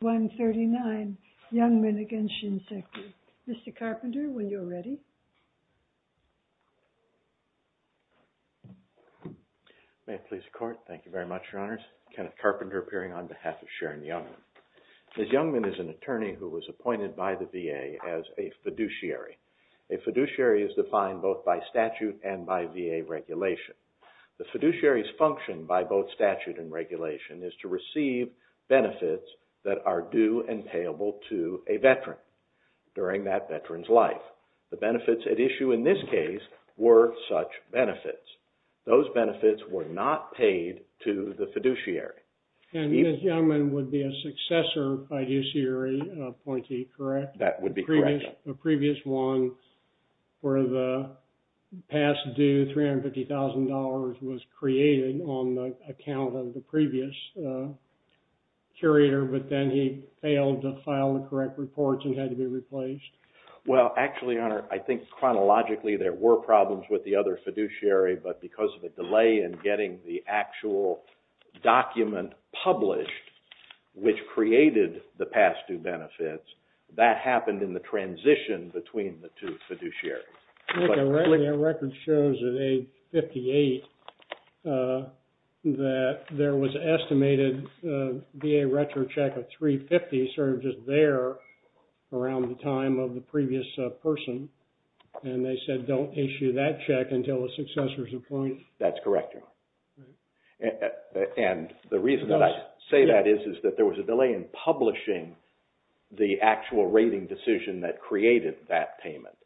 139, YOUNGMAN v. SHINSEKI. Mr. Carpenter, when you're ready. May it please the Court. Thank you very much, Your Honors. Kenneth Carpenter appearing on behalf of Sharon Youngman. Ms. Youngman is an attorney who was appointed by the VA as a fiduciary. A fiduciary is defined both by statute and by VA regulation. The fiduciary's function by both statute and regulation is to receive benefits that are due and payable to a veteran during that veteran's life. The benefits at issue in this case were such benefits. Those benefits were not paid to the fiduciary. And Ms. Youngman would be a successor fiduciary appointee, correct? That would be correct. The previous one for the past due, $350,000, was created on the account of the previous curator, but then he failed to file the correct reports and had to be replaced. Well, actually, Your Honor, I think chronologically there were problems with the other fiduciary, but because of a delay in getting the actual document published, which created the past due benefits, that happened in the transition between the two fiduciaries. Your record shows at age 58 that there was an estimated VA retro check of $350,000 sort of just there around the time of the previous person, and they said don't issue that check until the successor's appointed. That's correct, Your Honor. And the reason that I say that is that there was a delay in publishing the actual rating decision that created that payment.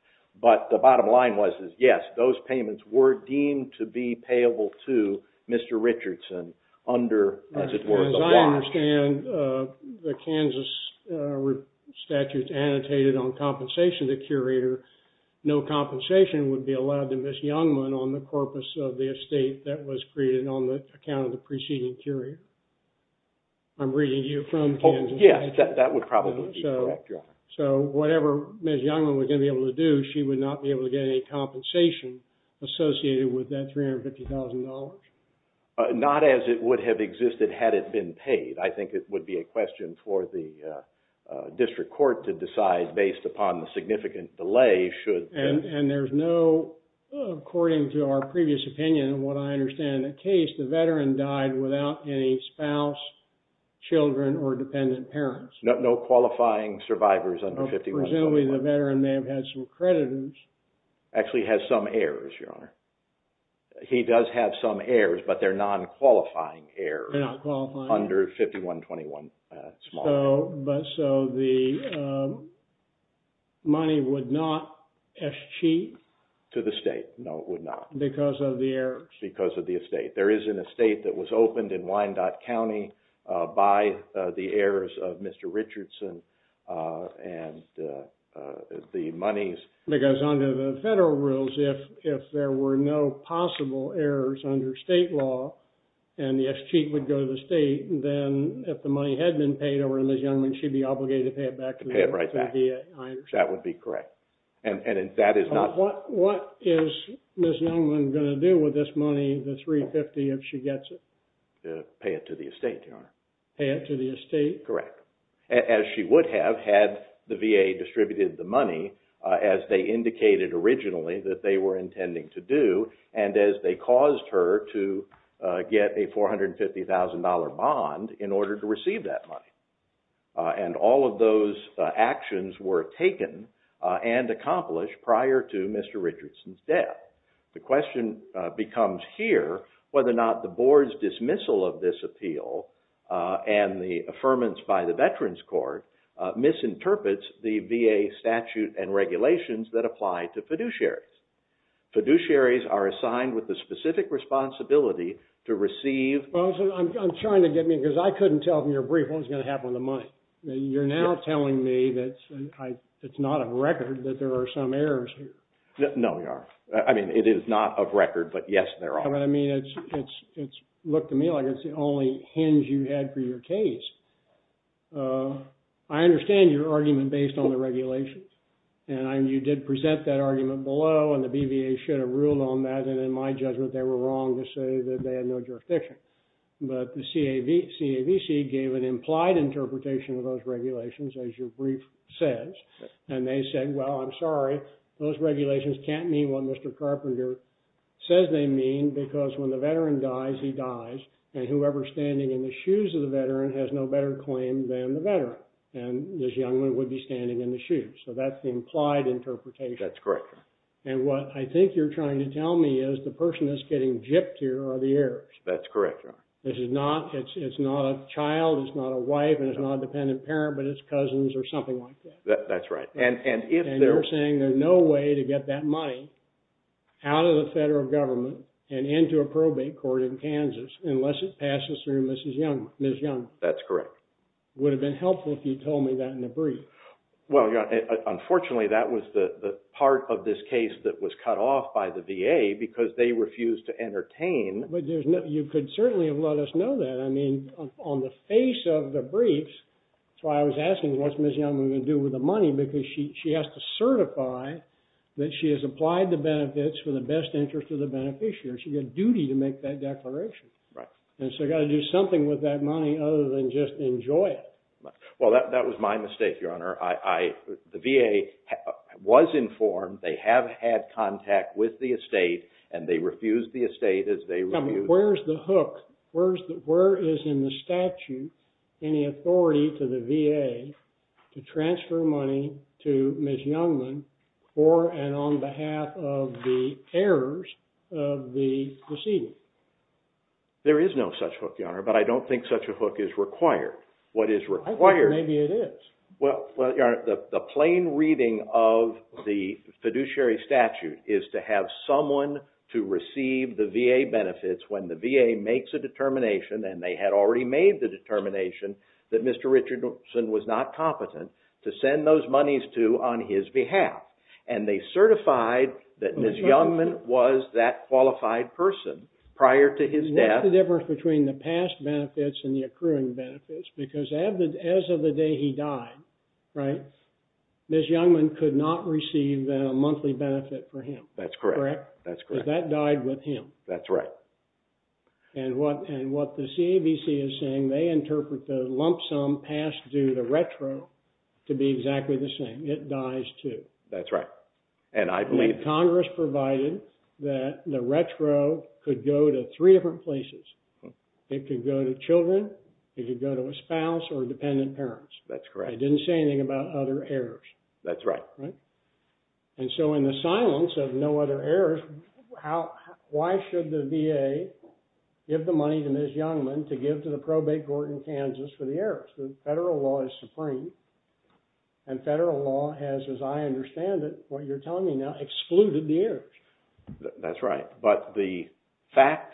But the bottom line was, yes, those payments were deemed to be payable to Mr. Richardson under, as it were, the law. As I understand, the Kansas statute annotated on compensation to curator, no compensation would be allowed to Ms. Youngman on the corpus of the estate that was created on the account of the preceding curator. I'm sure Ms. Youngman was going to be able to do, she would not be able to get any compensation associated with that $350,000. Not as it would have existed had it been paid. I think it would be a question for the district court to decide based upon the significant delay should. And there's no, according to our previous opinion and what I understand in the case, the veteran died without any spouse, children, or dependent parents. No qualifying survivors under 5121. Presumably the veteran may have had some creditors. Actually has some heirs, Your Honor. He does have some heirs, but they're non-qualifying heirs. They're not qualifying. Under 5121 small. So the money would not escheat? To the state, no, it would not. Because of the heirs? Because of the estate. There is an estate that was opened in Wyandotte County by the heirs of Mr. Richardson and the monies. Because under the federal rules, if there were no possible heirs under state law, and the escheat would go to the state, then if the money had been paid over to Ms. Youngman, she'd be obligated to pay it back to the estate. That would be correct. And that is not... What is Ms. Youngman going to do with this $350,000 if she gets it? Pay it to the estate, Your Honor. Pay it to the estate? Correct. As she would have had the VA distributed the money as they indicated originally that they were intending to do, and as they caused her to get a $450,000 bond in order to receive that money. And all of those actions were taken and accomplished prior to Mr. Richardson's appeal. The question becomes here whether or not the board's dismissal of this appeal and the affirmance by the Veterans Court misinterprets the VA statute and regulations that apply to fiduciaries. Fiduciaries are assigned with the specific responsibility to receive... I'm trying to get me, because I couldn't tell from your brief what was going to happen with the money. You're now telling me that it's not on record that there are some heirs here. No, Your Honor. I mean, it is not of record, but yes, there are. I mean, it's looked to me like it's the only hinge you had for your case. I understand your argument based on the regulations. And you did present that argument below and the BVA should have ruled on that. And in my judgment, they were wrong to say that they had no jurisdiction. But the CAVC gave an implied interpretation of those regulations, as your brief says. And they said, well, I'm sorry, those regulations can't mean what Mr. Carpenter says they mean, because when the veteran dies, he dies. And whoever's standing in the shoes of the veteran has no better claim than the veteran. And this young man would be standing in the shoes. So that's the implied interpretation. That's correct, Your Honor. And what I think you're trying to tell me is the person that's getting gipped here are the heirs. That's correct, Your Honor. This is not... It's not a child, it's not a wife, and it's not a dependent parent, but it's cousins or something like that. That's right. And if they're... And you're saying there's no way to get that money out of the federal government and into a probate court in Kansas, unless it passes through Mrs. Young, Ms. Young. That's correct. Would have been helpful if you told me that in the brief. Well, Your Honor, unfortunately, that was the part of this case that was cut off by the VA because they refused to entertain... But you could certainly have let us know that. I mean, on the face of the briefs, that's why I was asking, what's Ms. Young going to do with the money? Because she has to certify that she has applied the benefits for the best interest of the beneficiary. She had a duty to make that declaration. And so you got to do something with that money other than just enjoy it. Well, that was my mistake, Your Honor. The VA was informed, they have had contact with the estate, and they refused the estate as they... Where's the hook? Where is in the statute any authority to the VA to transfer money to Ms. Youngman for and on behalf of the heirs of the decedent? There is no such hook, Your Honor, but I don't think such a hook is required. What is required... I think maybe it is. Well, Your Honor, the plain reading of the VA makes a determination, and they had already made the determination that Mr. Richardson was not competent to send those monies to on his behalf. And they certified that Ms. Youngman was that qualified person prior to his death. What's the difference between the past benefits and the accruing benefits? Because as of the day he died, Ms. Youngman could not receive a monthly benefit for him. That's correct. Because that died with him. That's right. And what the CAVC is saying, they interpret the lump sum past due the retro to be exactly the same. It dies too. That's right. And I believe... And Congress provided that the retro could go to three different places. It could go to children, it could go to a spouse or dependent parents. That's correct. They didn't say anything about other heirs. That's right. And so in the silence of no other heirs, why should the VA give the money to Ms. Youngman to give to the probate court in Kansas for the heirs? The federal law is supreme. And federal law has, as I understand it, what you're telling me now, excluded the heirs. That's right. But the fact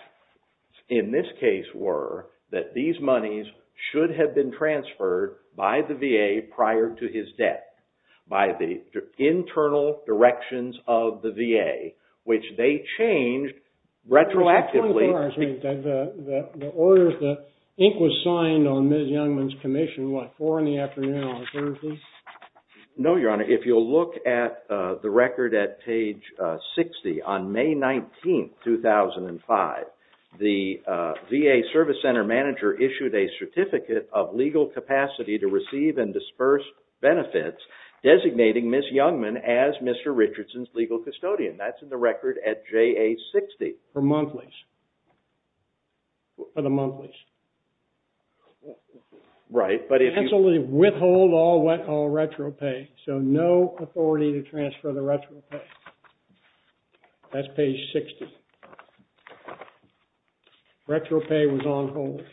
in this case were that these monies should have been transferred by the VA prior to his death by the internal directions of the VA, which they changed retroactively. The orders, the ink was signed on Ms. Youngman's commission, what, four in the afternoon on Thursday? No, Your Honor. If you'll look at the record at page 60, on May 19, 2005, the VA service center manager issued a certificate of legal capacity to receive and disperse benefits designating Ms. Youngman as Mr. Richardson's legal custodian. That's in the record at JA-60. For monthlies. For the monthlies. Right, but if you... Withhold all retro pay. So no authority to transfer the retro pay. That's page 60. Retro pay was on hold. It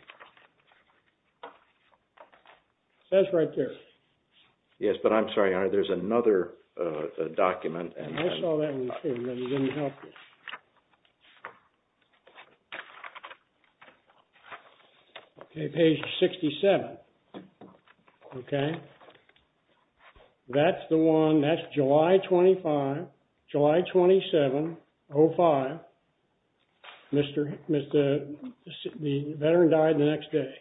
says right there. Yes, but I'm sorry, Your Honor, there's another document. And I saw that didn't help you. Okay, page 67. Okay. That's the one. That's July 25, July 27, 05. Mr. The veteran died the next day.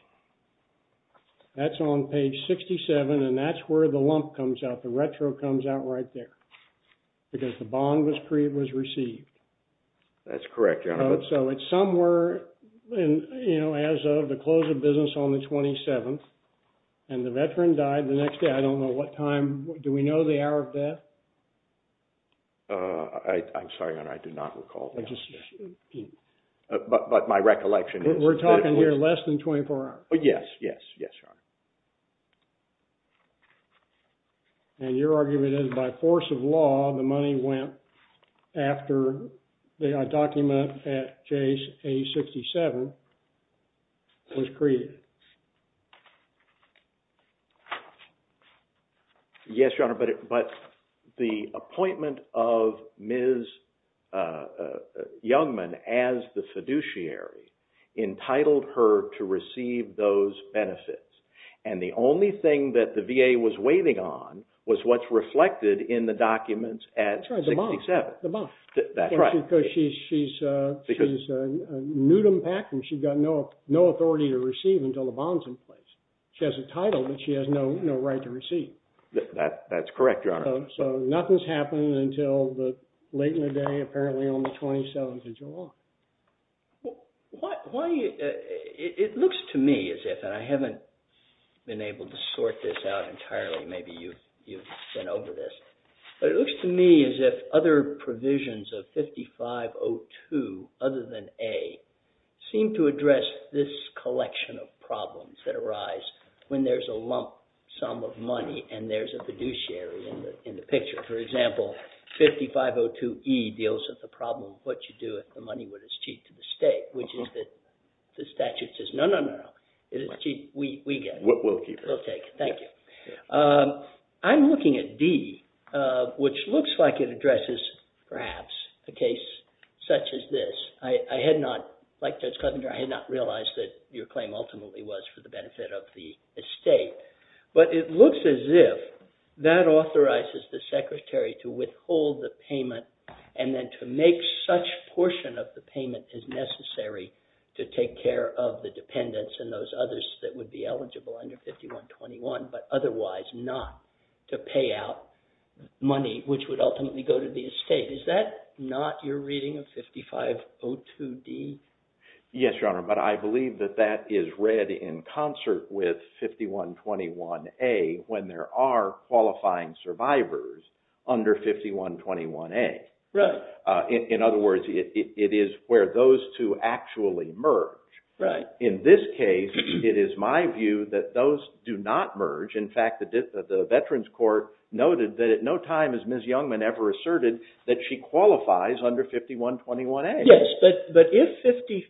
That's on page 67. And that's where the lump comes out. Retro comes out right there. Because the bond was received. That's correct, Your Honor. So it's somewhere, you know, as of the close of business on the 27th. And the veteran died the next day. I don't know what time. Do we know the hour of death? I'm sorry, Your Honor, I do not recall. But my recollection is... We're talking here less than 24 hours. Yes, yes, yes, Your Honor. And your argument is by force of law, the money went after the document at page 67 was created. Yes, Your Honor. But the appointment of Ms. Youngman as the fiduciary entitled her to receive those benefits. And the only thing that the VA was waiving on was what's reflected in the documents at 67. That's right, the bond. Because she's a nudum pactum. She's got no authority to receive until the bond's in place. She has a title, but she has no right to receive. That's correct, Your Honor. So nothing's happened until late in the day, apparently on the 27th of July. Well, why are you... It looks to me as if, and I haven't been able to sort this out entirely, maybe you've been over this, but it looks to me as if other provisions of 5502 other than A seem to address this collection of problems that arise when there's a lump sum of money and there's a fiduciary in the picture. For example, 5502E deals with the problem of what you do if the money was as cheap to the state, which is that the statute says, no, no, no, it is cheap. We get it. We'll keep it. We'll take it. Thank you. I'm looking at D, which looks like it addresses perhaps a case such as this. I had not, like Judge Clevenger, I had not realized that your claim ultimately was for the benefit of the estate. But it looks as if that authorizes the portion of the payment is necessary to take care of the dependents and those others that would be eligible under 5121, but otherwise not to pay out money, which would ultimately go to the estate. Is that not your reading of 5502D? Yes, Your Honor, but I believe that that is read in concert with 5121A when there are qualifying survivors under 5121A. In other words, it is where those two actually merge. In this case, it is my view that those do not merge. In fact, the Veterans Court noted that at no time has Ms. Youngman ever asserted that she qualifies under 5121A. Yes, but if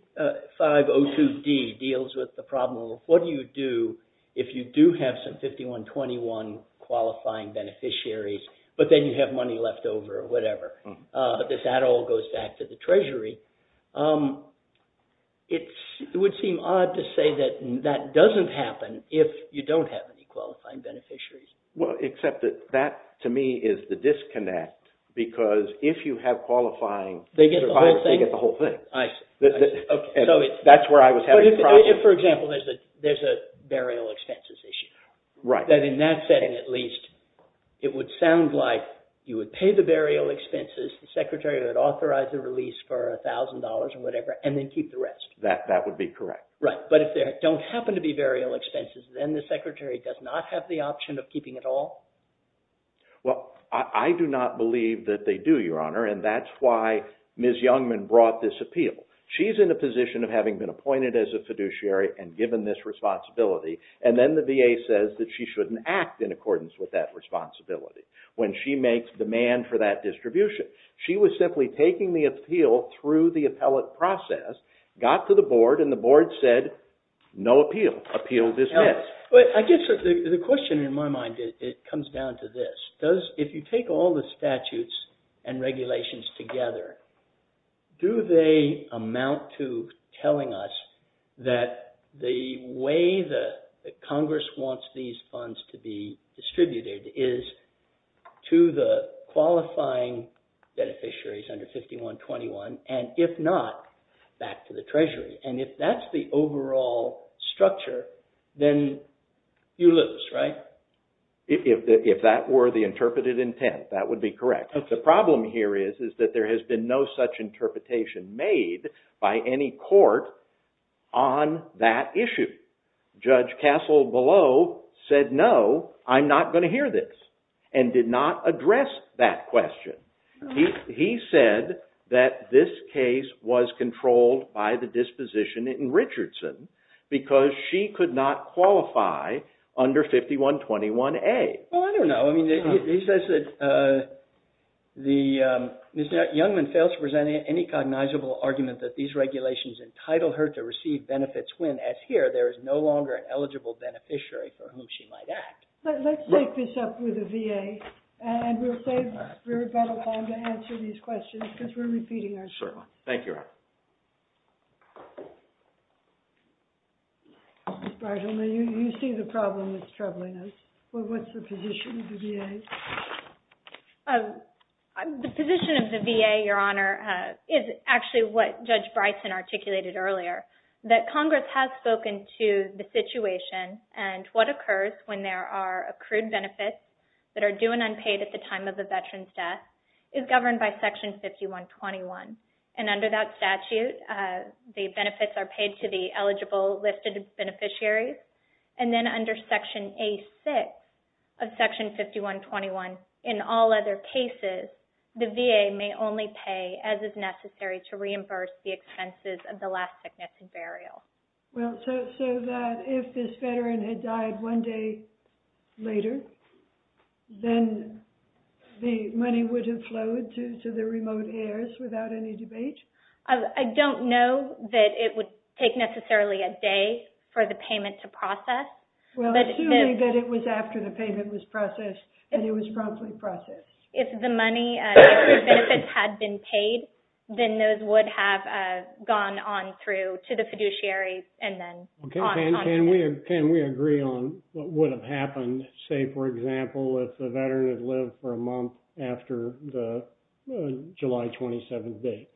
5502D deals with the problem of what do you do if you do have some 5121 qualifying beneficiaries, but then you have money left over or whatever, that that all goes back to the Treasury, it would seem odd to say that that doesn't happen if you don't have any qualifying beneficiaries. Well, except that that to me is the disconnect because if you have qualifying survivors, they get the whole thing. That's where I was having problems. For example, there's a burial expenses issue. That in that setting, at least, it would sound like you would pay the burial expenses, the Secretary would authorize the release for $1,000 and whatever, and then keep the rest. That would be correct. Right, but if there don't happen to be burial expenses, then the Secretary does not have the option of keeping it all? Well, I do not believe that they do, Your Honor, and that's why Ms. Youngman brought this appeal. She's in a position of having been appointed as a fiduciary and given this responsibility, and then the VA says that she shouldn't act in accordance with that responsibility when she makes demand for that distribution. She was simply taking the appeal through the But I guess the question in my mind, it comes down to this. If you take all the statutes and regulations together, do they amount to telling us that the way that Congress wants these funds to be distributed is to the qualifying beneficiaries under 5121, and if not, back to the Treasury? And if that's the overall structure, then you lose, right? If that were the interpreted intent, that would be correct. The problem here is that there has been no such interpretation made by any court on that issue. Judge Castle below said, no, I'm not going to hear this, and did not address that question. He said that this case was controlled by the disposition in Richardson because she could not qualify under 5121A. Well, I don't know. I mean, he says that Ms. Youngman fails to present any cognizable argument that these regulations entitle her to receive benefits when, as here, there is no longer an eligible beneficiary for whom she might act. Let's take this up with the court. Thank you. Ms. Breiselman, you see the problem that's troubling us. What's the position of the VA? The position of the VA, Your Honor, is actually what Judge Bryson articulated earlier, that Congress has spoken to the situation and what occurs when there are accrued benefits that are due and unpaid at the time of the veteran's death is governed by Section 5121. And under that statute, the benefits are paid to the eligible listed beneficiaries. And then under Section A6 of Section 5121, in all other cases, the VA may only pay as is necessary to reimburse the expenses of the last sickness and burial. Well, so that if this veteran had died one day later, then the money would have flowed to the remote heirs without any debate? I don't know that it would take necessarily a day for the payment to process. Well, assuming that it was after the payment was processed and it was promptly processed. If the money, accrued benefits, had been paid, then those would have gone on through to the fiduciary and then on. Can we agree on what would have happened, say, for example, if the veteran had lived for a month after the July 27th date?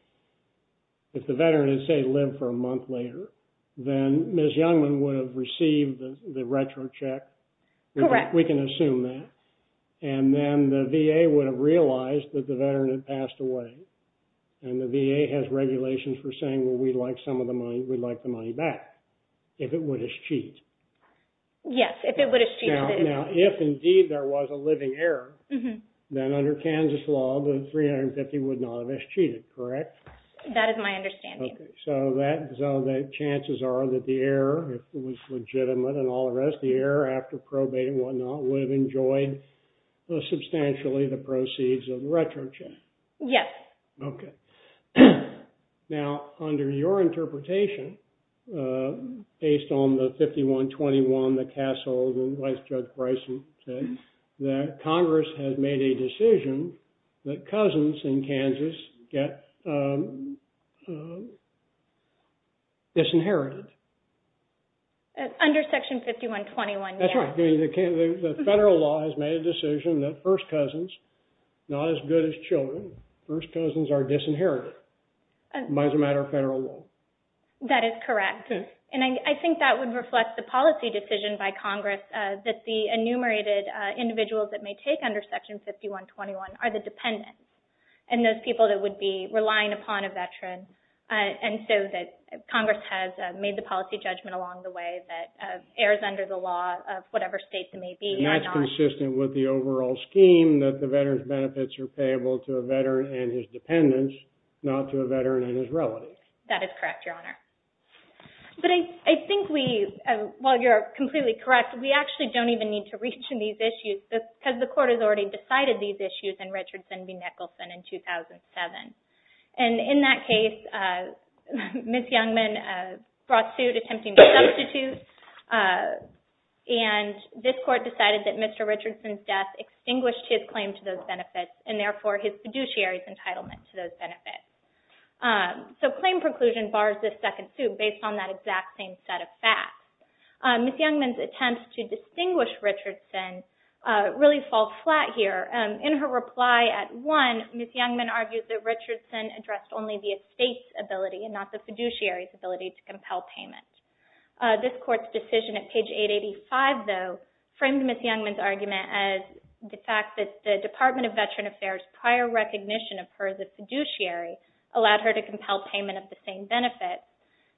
If the veteran had, say, lived for a month later, then Ms. Youngman would have received the retrocheck. Correct. We can assume that. And then the VA would have realized that the veteran had passed away. And the VA has regulations for saying, well, we'd like some of the money, we'd like the money back, if it would have cheated. Yes, if it would have cheated. Now, if indeed there was a living heir, then under Kansas law, the 350 would not have cheated, correct? That is my understanding. Okay. So that, so the chances are that the heir, if it was legitimate and all the rest, the heir, after probating and whatnot, would have enjoyed substantially the proceeds of the retrocheck. Yes. Okay. Now, under your interpretation, based on the 5121, the Castle, the wife, Judge Bryson said that Congress has made a decision that cousins in Kansas get disinherited. Under Section 5121, yes. That's right. The federal law has made a decision that first cousins, not as good as children, first cousins are disinherited by the matter of federal law. That is correct. And I think that would reflect the policy decision by Congress that the enumerated individuals that may take under Section 5121 are the dependents, and those people that would be relying upon a veteran. And so that Congress has made the policy judgment along the way that heirs under the law of whatever state they may be. And that's consistent with the overall scheme that the veteran's benefits are payable to a veteran and his dependents, not to a veteran and his relatives. That is correct, Your Honor. But I think we, while you're completely correct, we actually don't even need to reach in these issues because the court has already decided these issues in Richardson v. Nicholson in 2007. And in that case, Ms. Youngman brought suit attempting to substitute, and this court decided that Mr. Richardson's death extinguished his claim to those benefits, and therefore his fiduciary's entitlement to those benefits. So claim preclusion bars this second suit based on that exact same set of facts. Ms. Youngman's attempts to distinguish Richardson really fall flat here. In her reply at one, Ms. Youngman argued that Richardson addressed only the estate's ability and not the fiduciary's ability to compel payment. This court's decision at page 885, though, framed Ms. Youngman's argument as the fact that the Department of Veteran Affairs' prior recognition of her as a fiduciary allowed her to compel payment of the same benefit.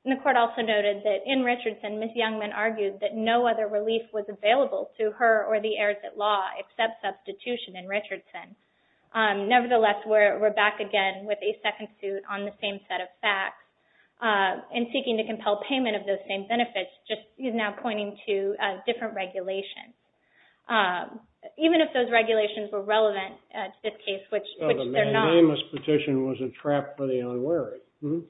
And the court also noted that in Richardson, Ms. Youngman argued that no other relief was available to her or the heirs at law except substitution in Richardson. Nevertheless, we're back again with a second suit on the same set of facts in seeking to compel payment of those same benefits, just now pointing to different regulations. Even if those regulations were relevant to this case, which they're not. The mandamus petition was a trap for the unwary. Mm-hmm.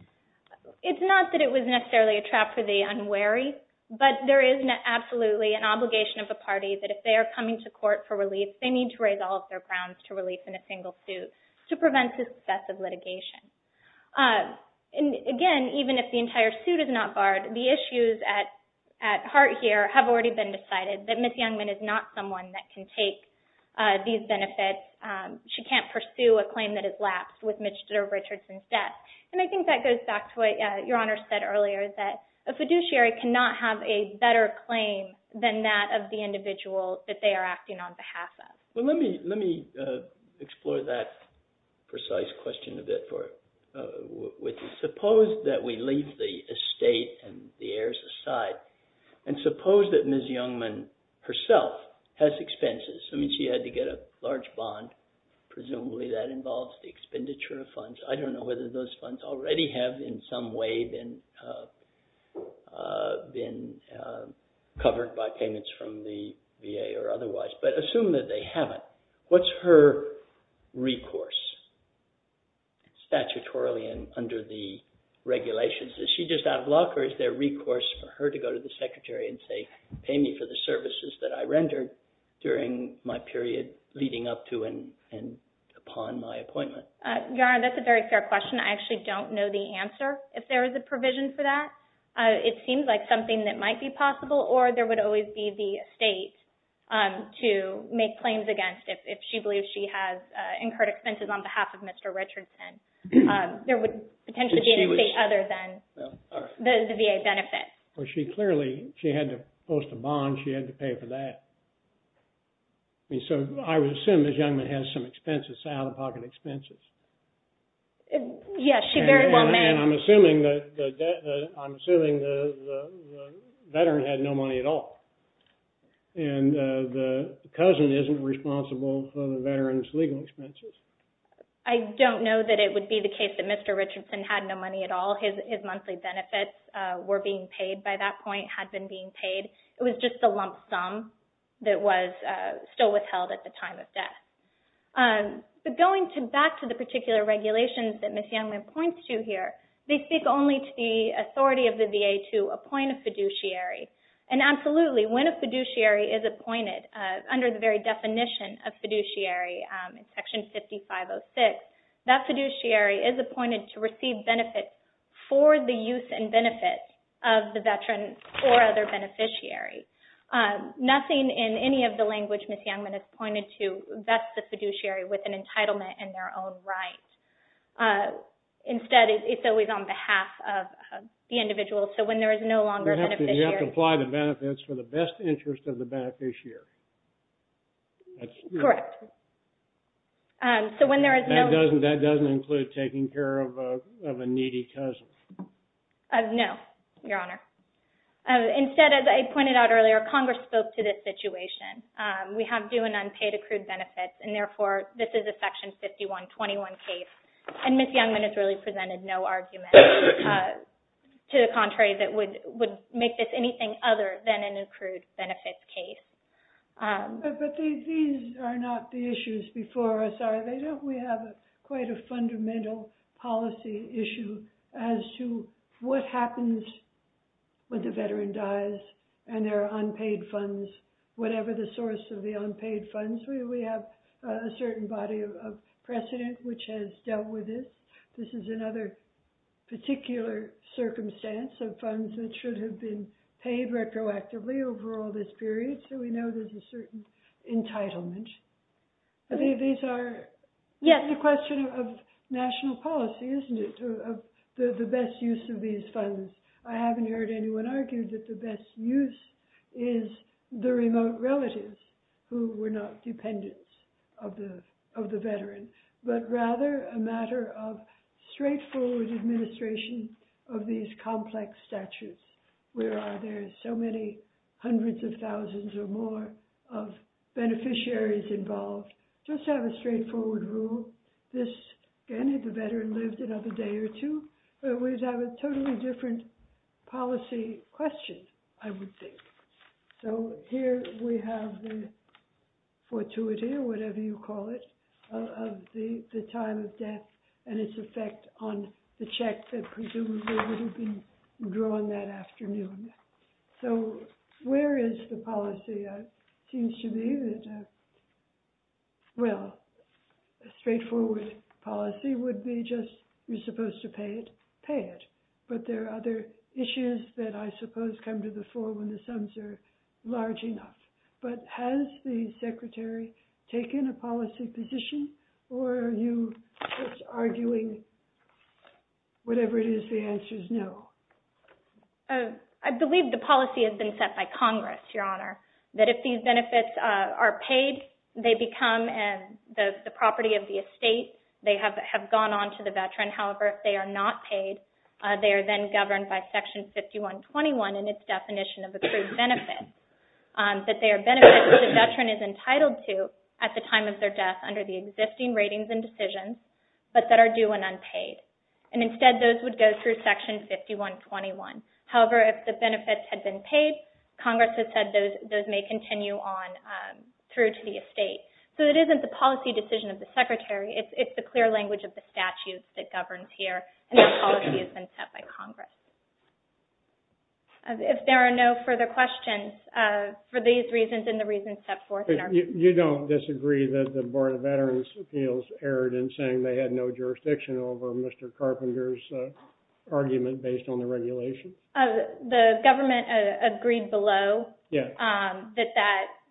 It's not that it was necessarily a trap for the unwary, but there is absolutely an obligation of a party that if they are coming to court for relief, they need to raise all of their grounds to relief in a single suit to prevent successive litigation. And again, even if the entire suit is not barred, the issues at heart here have already been decided that Ms. Youngman is not someone that can take these benefits. She can't pursue a claim that lapsed with Mr. Richardson's death. And I think that goes back to what Your Honor said earlier, that a fiduciary cannot have a better claim than that of the individual that they are acting on behalf of. Well, let me explore that precise question a bit. Suppose that we leave the estate and the heirs aside, and suppose that Ms. Youngman herself has expenses. I mean, she had to get a large bond. Presumably that involves the expenditure of funds. I don't know whether those funds already have in some way been covered by payments from the VA or otherwise, but assume that they haven't. What's her recourse statutorily and under the regulations? Is she just out of luck, or is there recourse for her to go to the secretary and say, my period leading up to and upon my appointment? Your Honor, that's a very fair question. I actually don't know the answer if there is a provision for that. It seems like something that might be possible, or there would always be the estate to make claims against if she believes she has incurred expenses on behalf of Mr. Richardson. There would potentially be an estate other than the VA benefit. Well, she clearly had to post a bond. She had to pay for that. So I would assume Ms. Youngman has some expenses, out-of-pocket expenses. Yes, she very well may. And I'm assuming the veteran had no money at all, and the cousin isn't responsible for the veteran's legal expenses. I don't know that it would be the case that Mr. Richardson had no money at all. His monthly benefits were being paid by that point, had been being paid. It was just a lump sum that was still withheld at the time of death. But going back to the particular regulations that Ms. Youngman points to here, they speak only to the authority of the VA to appoint a fiduciary. And absolutely, when a fiduciary is appointed, under the very definition of fiduciary, in Section 5506, that fiduciary is appointed to receive benefits for the use and benefits of the veteran or other beneficiary. Nothing in any of the language Ms. Youngman has pointed to vests the fiduciary with an entitlement in their own right. Instead, it's always on behalf of the individual. So when there is no longer a beneficiary. You have to apply the benefits for the best interest of the beneficiary. Correct. So when there is no... That doesn't include taking care of a needy cousin. No, Your Honor. Instead, as I pointed out earlier, Congress spoke to this situation. We have due and unpaid accrued benefits. And therefore, this is a Section 5121 case. And Ms. Youngman has really presented no argument to the contrary that would make this anything other than an accrued benefits case. But these are not the issues before us, are they? Don't we have quite a fundamental policy issue as to what happens when the veteran dies and their unpaid funds, whatever the source of the unpaid funds. We have a certain body of precedent which has dealt with it. This is another particular circumstance of funds that should have been retroactively over all this period. So we know there's a certain entitlement. These are the question of national policy, isn't it? The best use of these funds. I haven't heard anyone argue that the best use is the remote relatives who were not dependents of the veteran, but rather a matter of straightforward administration of these complex statutes. Where are there so many hundreds of thousands or more of beneficiaries involved? Just have a straightforward rule. This, again, if the veteran lived another day or two, we'd have a totally different policy question, I would think. So here we have the fortuity, or whatever you call it, of the time of death and its effect on the check that presumably would have been drawn that afternoon. So where is the policy? It seems to me that, well, a straightforward policy would be just you're supposed to pay it, pay it. But there are other issues that I suppose come to the fore when the sums are large enough. But has the secretary taken a policy position, or are you just arguing whatever it is the answer is no? I believe the policy has been set by Congress, Your Honor, that if these benefits are paid, they become the property of the estate. They have gone on to the veteran. However, if they are not paid, they are then governed by Section 5121 in its definition of accrued benefits, that they are the benefits that the veteran is entitled to at the time of their death under the existing ratings and decisions, but that are due and unpaid. And instead, those would go through Section 5121. However, if the benefits had been paid, Congress has said those may continue on through to the estate. So it isn't the policy decision of the secretary. It's the clear language of the statute that governs here, and the policy has been set by Congress. If there are no further questions, for these reasons and the reasons set forth in our... You don't disagree that the Board of Veterans' Appeals erred in saying they had no jurisdiction over Mr. Carpenter's argument based on the regulation? The government agreed below that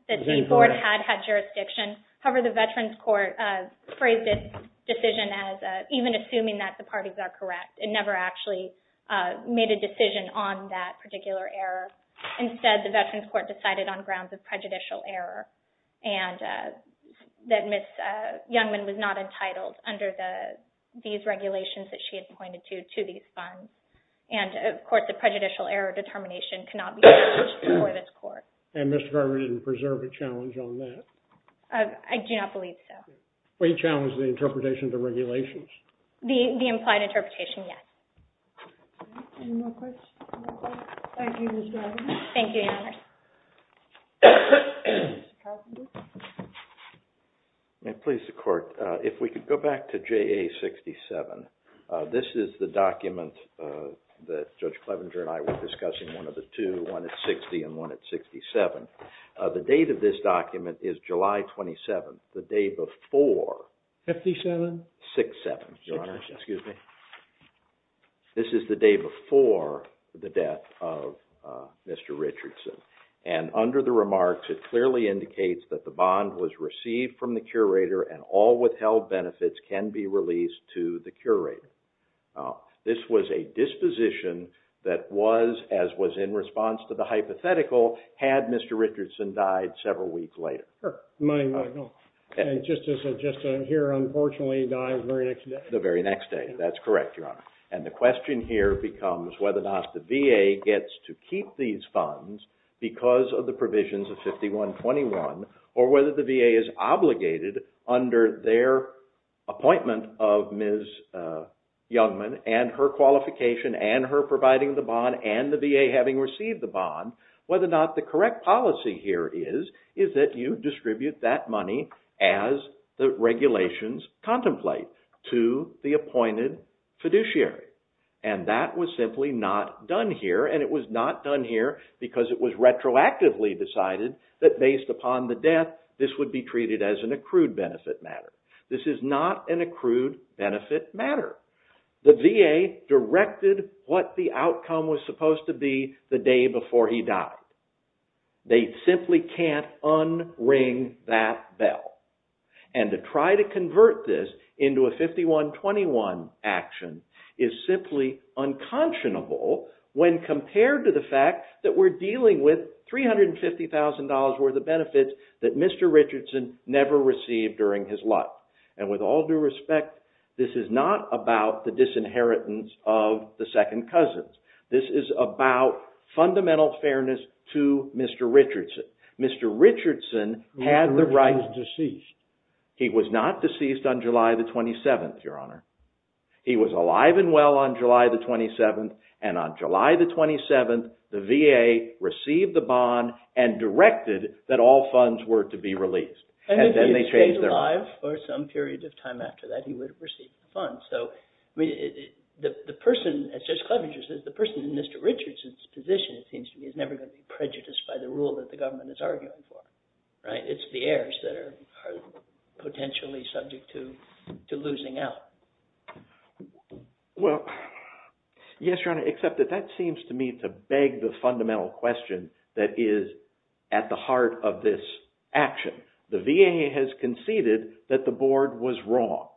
the board had had jurisdiction. However, the Veterans' Court phrased this decision as even assuming that the parties are correct. It never actually made a decision on that particular error. Instead, the Veterans' Court decided on grounds of prejudicial error, and that Ms. Youngman was not entitled under these regulations that she had pointed to to these funds. And of course, the prejudicial error determination cannot be challenged before this court. And Mr. Garvin didn't preserve a challenge on that? I do not believe so. We challenge the interpretation of the regulations. The implied interpretation, yes. Any more questions? Thank you, Ms. Garvin. Thank you, Your Honor. May it please the court, if we could go back to JA 67. This is the document that Judge Clevenger and I were discussing, one of the two, one at 60 and one at 67. The date of this document is July 27, the day before. 57? 67, Your Honor. This is the day before the death of Mr. Richardson. And under the remarks, it clearly indicates that the bond was received from the curator and all withheld benefits can be released to the curator. Now, this was a disposition that was, as was in response to the hypothetical, had Mr. Richardson died several weeks later. Sure. And just to suggest that here, unfortunately, he died the very next day. The very next day. That's correct, Your Honor. And the question here becomes whether or not the VA gets to keep these funds because of the provisions of 5121 or whether the VA is obligated under their appointment of Ms. Youngman and her qualification and her providing the bond and the VA having received the bond, whether or not the correct policy here is, is that you distribute that money as the regulations contemplate to the appointed fiduciary. And that was simply not done here. And it was not done here because it was retroactively decided that based upon the death, this would be treated as an accrued benefit matter. This is not an accrued benefit matter. The VA directed what the outcome was supposed to be the day before he died. They simply can't unring that bell. And to try to convert this into a 5121 action is simply unconscionable when compared to the fact that we're dealing with $350,000 worth of benefits that Mr. Richardson never received during his life. And with all due respect, this is not about the disinheritance of the second cousins. This is about fundamental fairness to Mr. Richardson. Mr. Richardson had the right to cease. He was not deceased on July the 27th, Your Honor. He was alive and well on July the 27th. And on July the 27th, the VA received the bond and directed that all funds were to be released. And if he had stayed alive for some period of time after that, he would have received the funds. So the person, as Judge Clevenger says, the person in Mr. Richardson's position, it seems to me, is never going to be prejudiced by the rule that the government is arguing for, right? It's the heirs that are potentially subject to losing out. Well, yes, Your Honor, except that that seems to me to beg the fundamental question that is at the heart of this action. The VA has conceded that the board was wrong.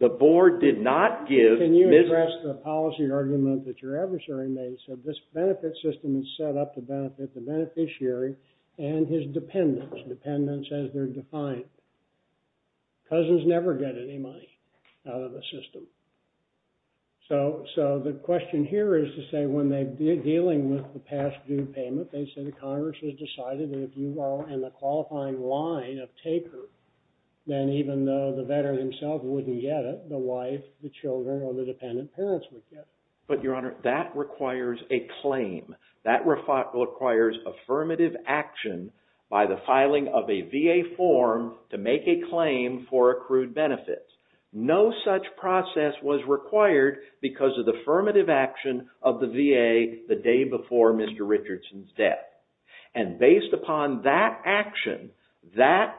The board did not give... Can you address the policy argument that your adversary made? So this benefit system is set up to benefit the beneficiary and his dependents, dependents as they're defined. Cousins never get any money out of the system. So the question here is to say when they're dealing with the past due payment, they say the Congress has decided that if you are in the qualifying line of taker, then even though the veteran himself wouldn't get it, the wife, the children, or the dependent parents would get it. But Your Honor, that requires a claim. That requires affirmative action by the filing of a VA form to make a claim for accrued benefits. No such process was required because of the affirmative action of the VA the day before Mr. Richardson's death. And based upon that action, that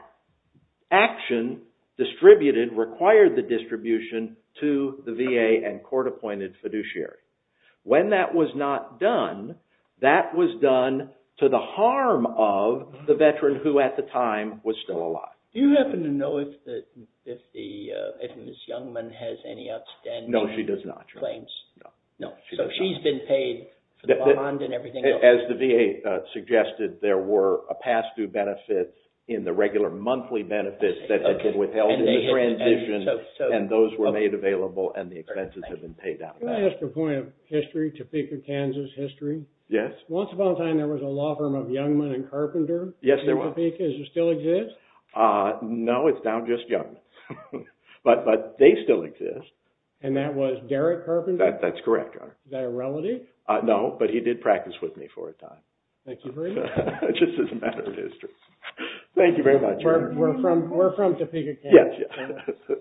action distributed, required the distribution to the VA and court-appointed fiduciary. When that was not done, that was done to the harm of the veteran who at the time was still alive. Do you happen to know if Ms. Youngman has any outstanding... No, she does not. ...claims? No. No. So she's been paid for the bond and everything else? As the VA suggested, there were a past due benefit in the regular monthly benefits that they could withheld in the transition, and those were made available and the expenses have been paid out of that. Can I ask a point of history, Topeka, Kansas history? Yes. Once upon a time, there was a law firm of Youngman and Carpenter... Yes, there was. ...in Topeka. Does it still exist? No, it's now just Youngman. But they still exist. And that was Derrick Carpenter? That's correct. Is that a relative? No, but he did practice with me for a time. Thank you very much. It just is a matter of history. Thank you very much. We're from Topeka, Kansas. Yes.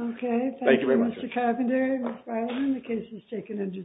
Okay. Thank you very much. Mr. Carpenter, Ms. Bileman, the case is taken under submission.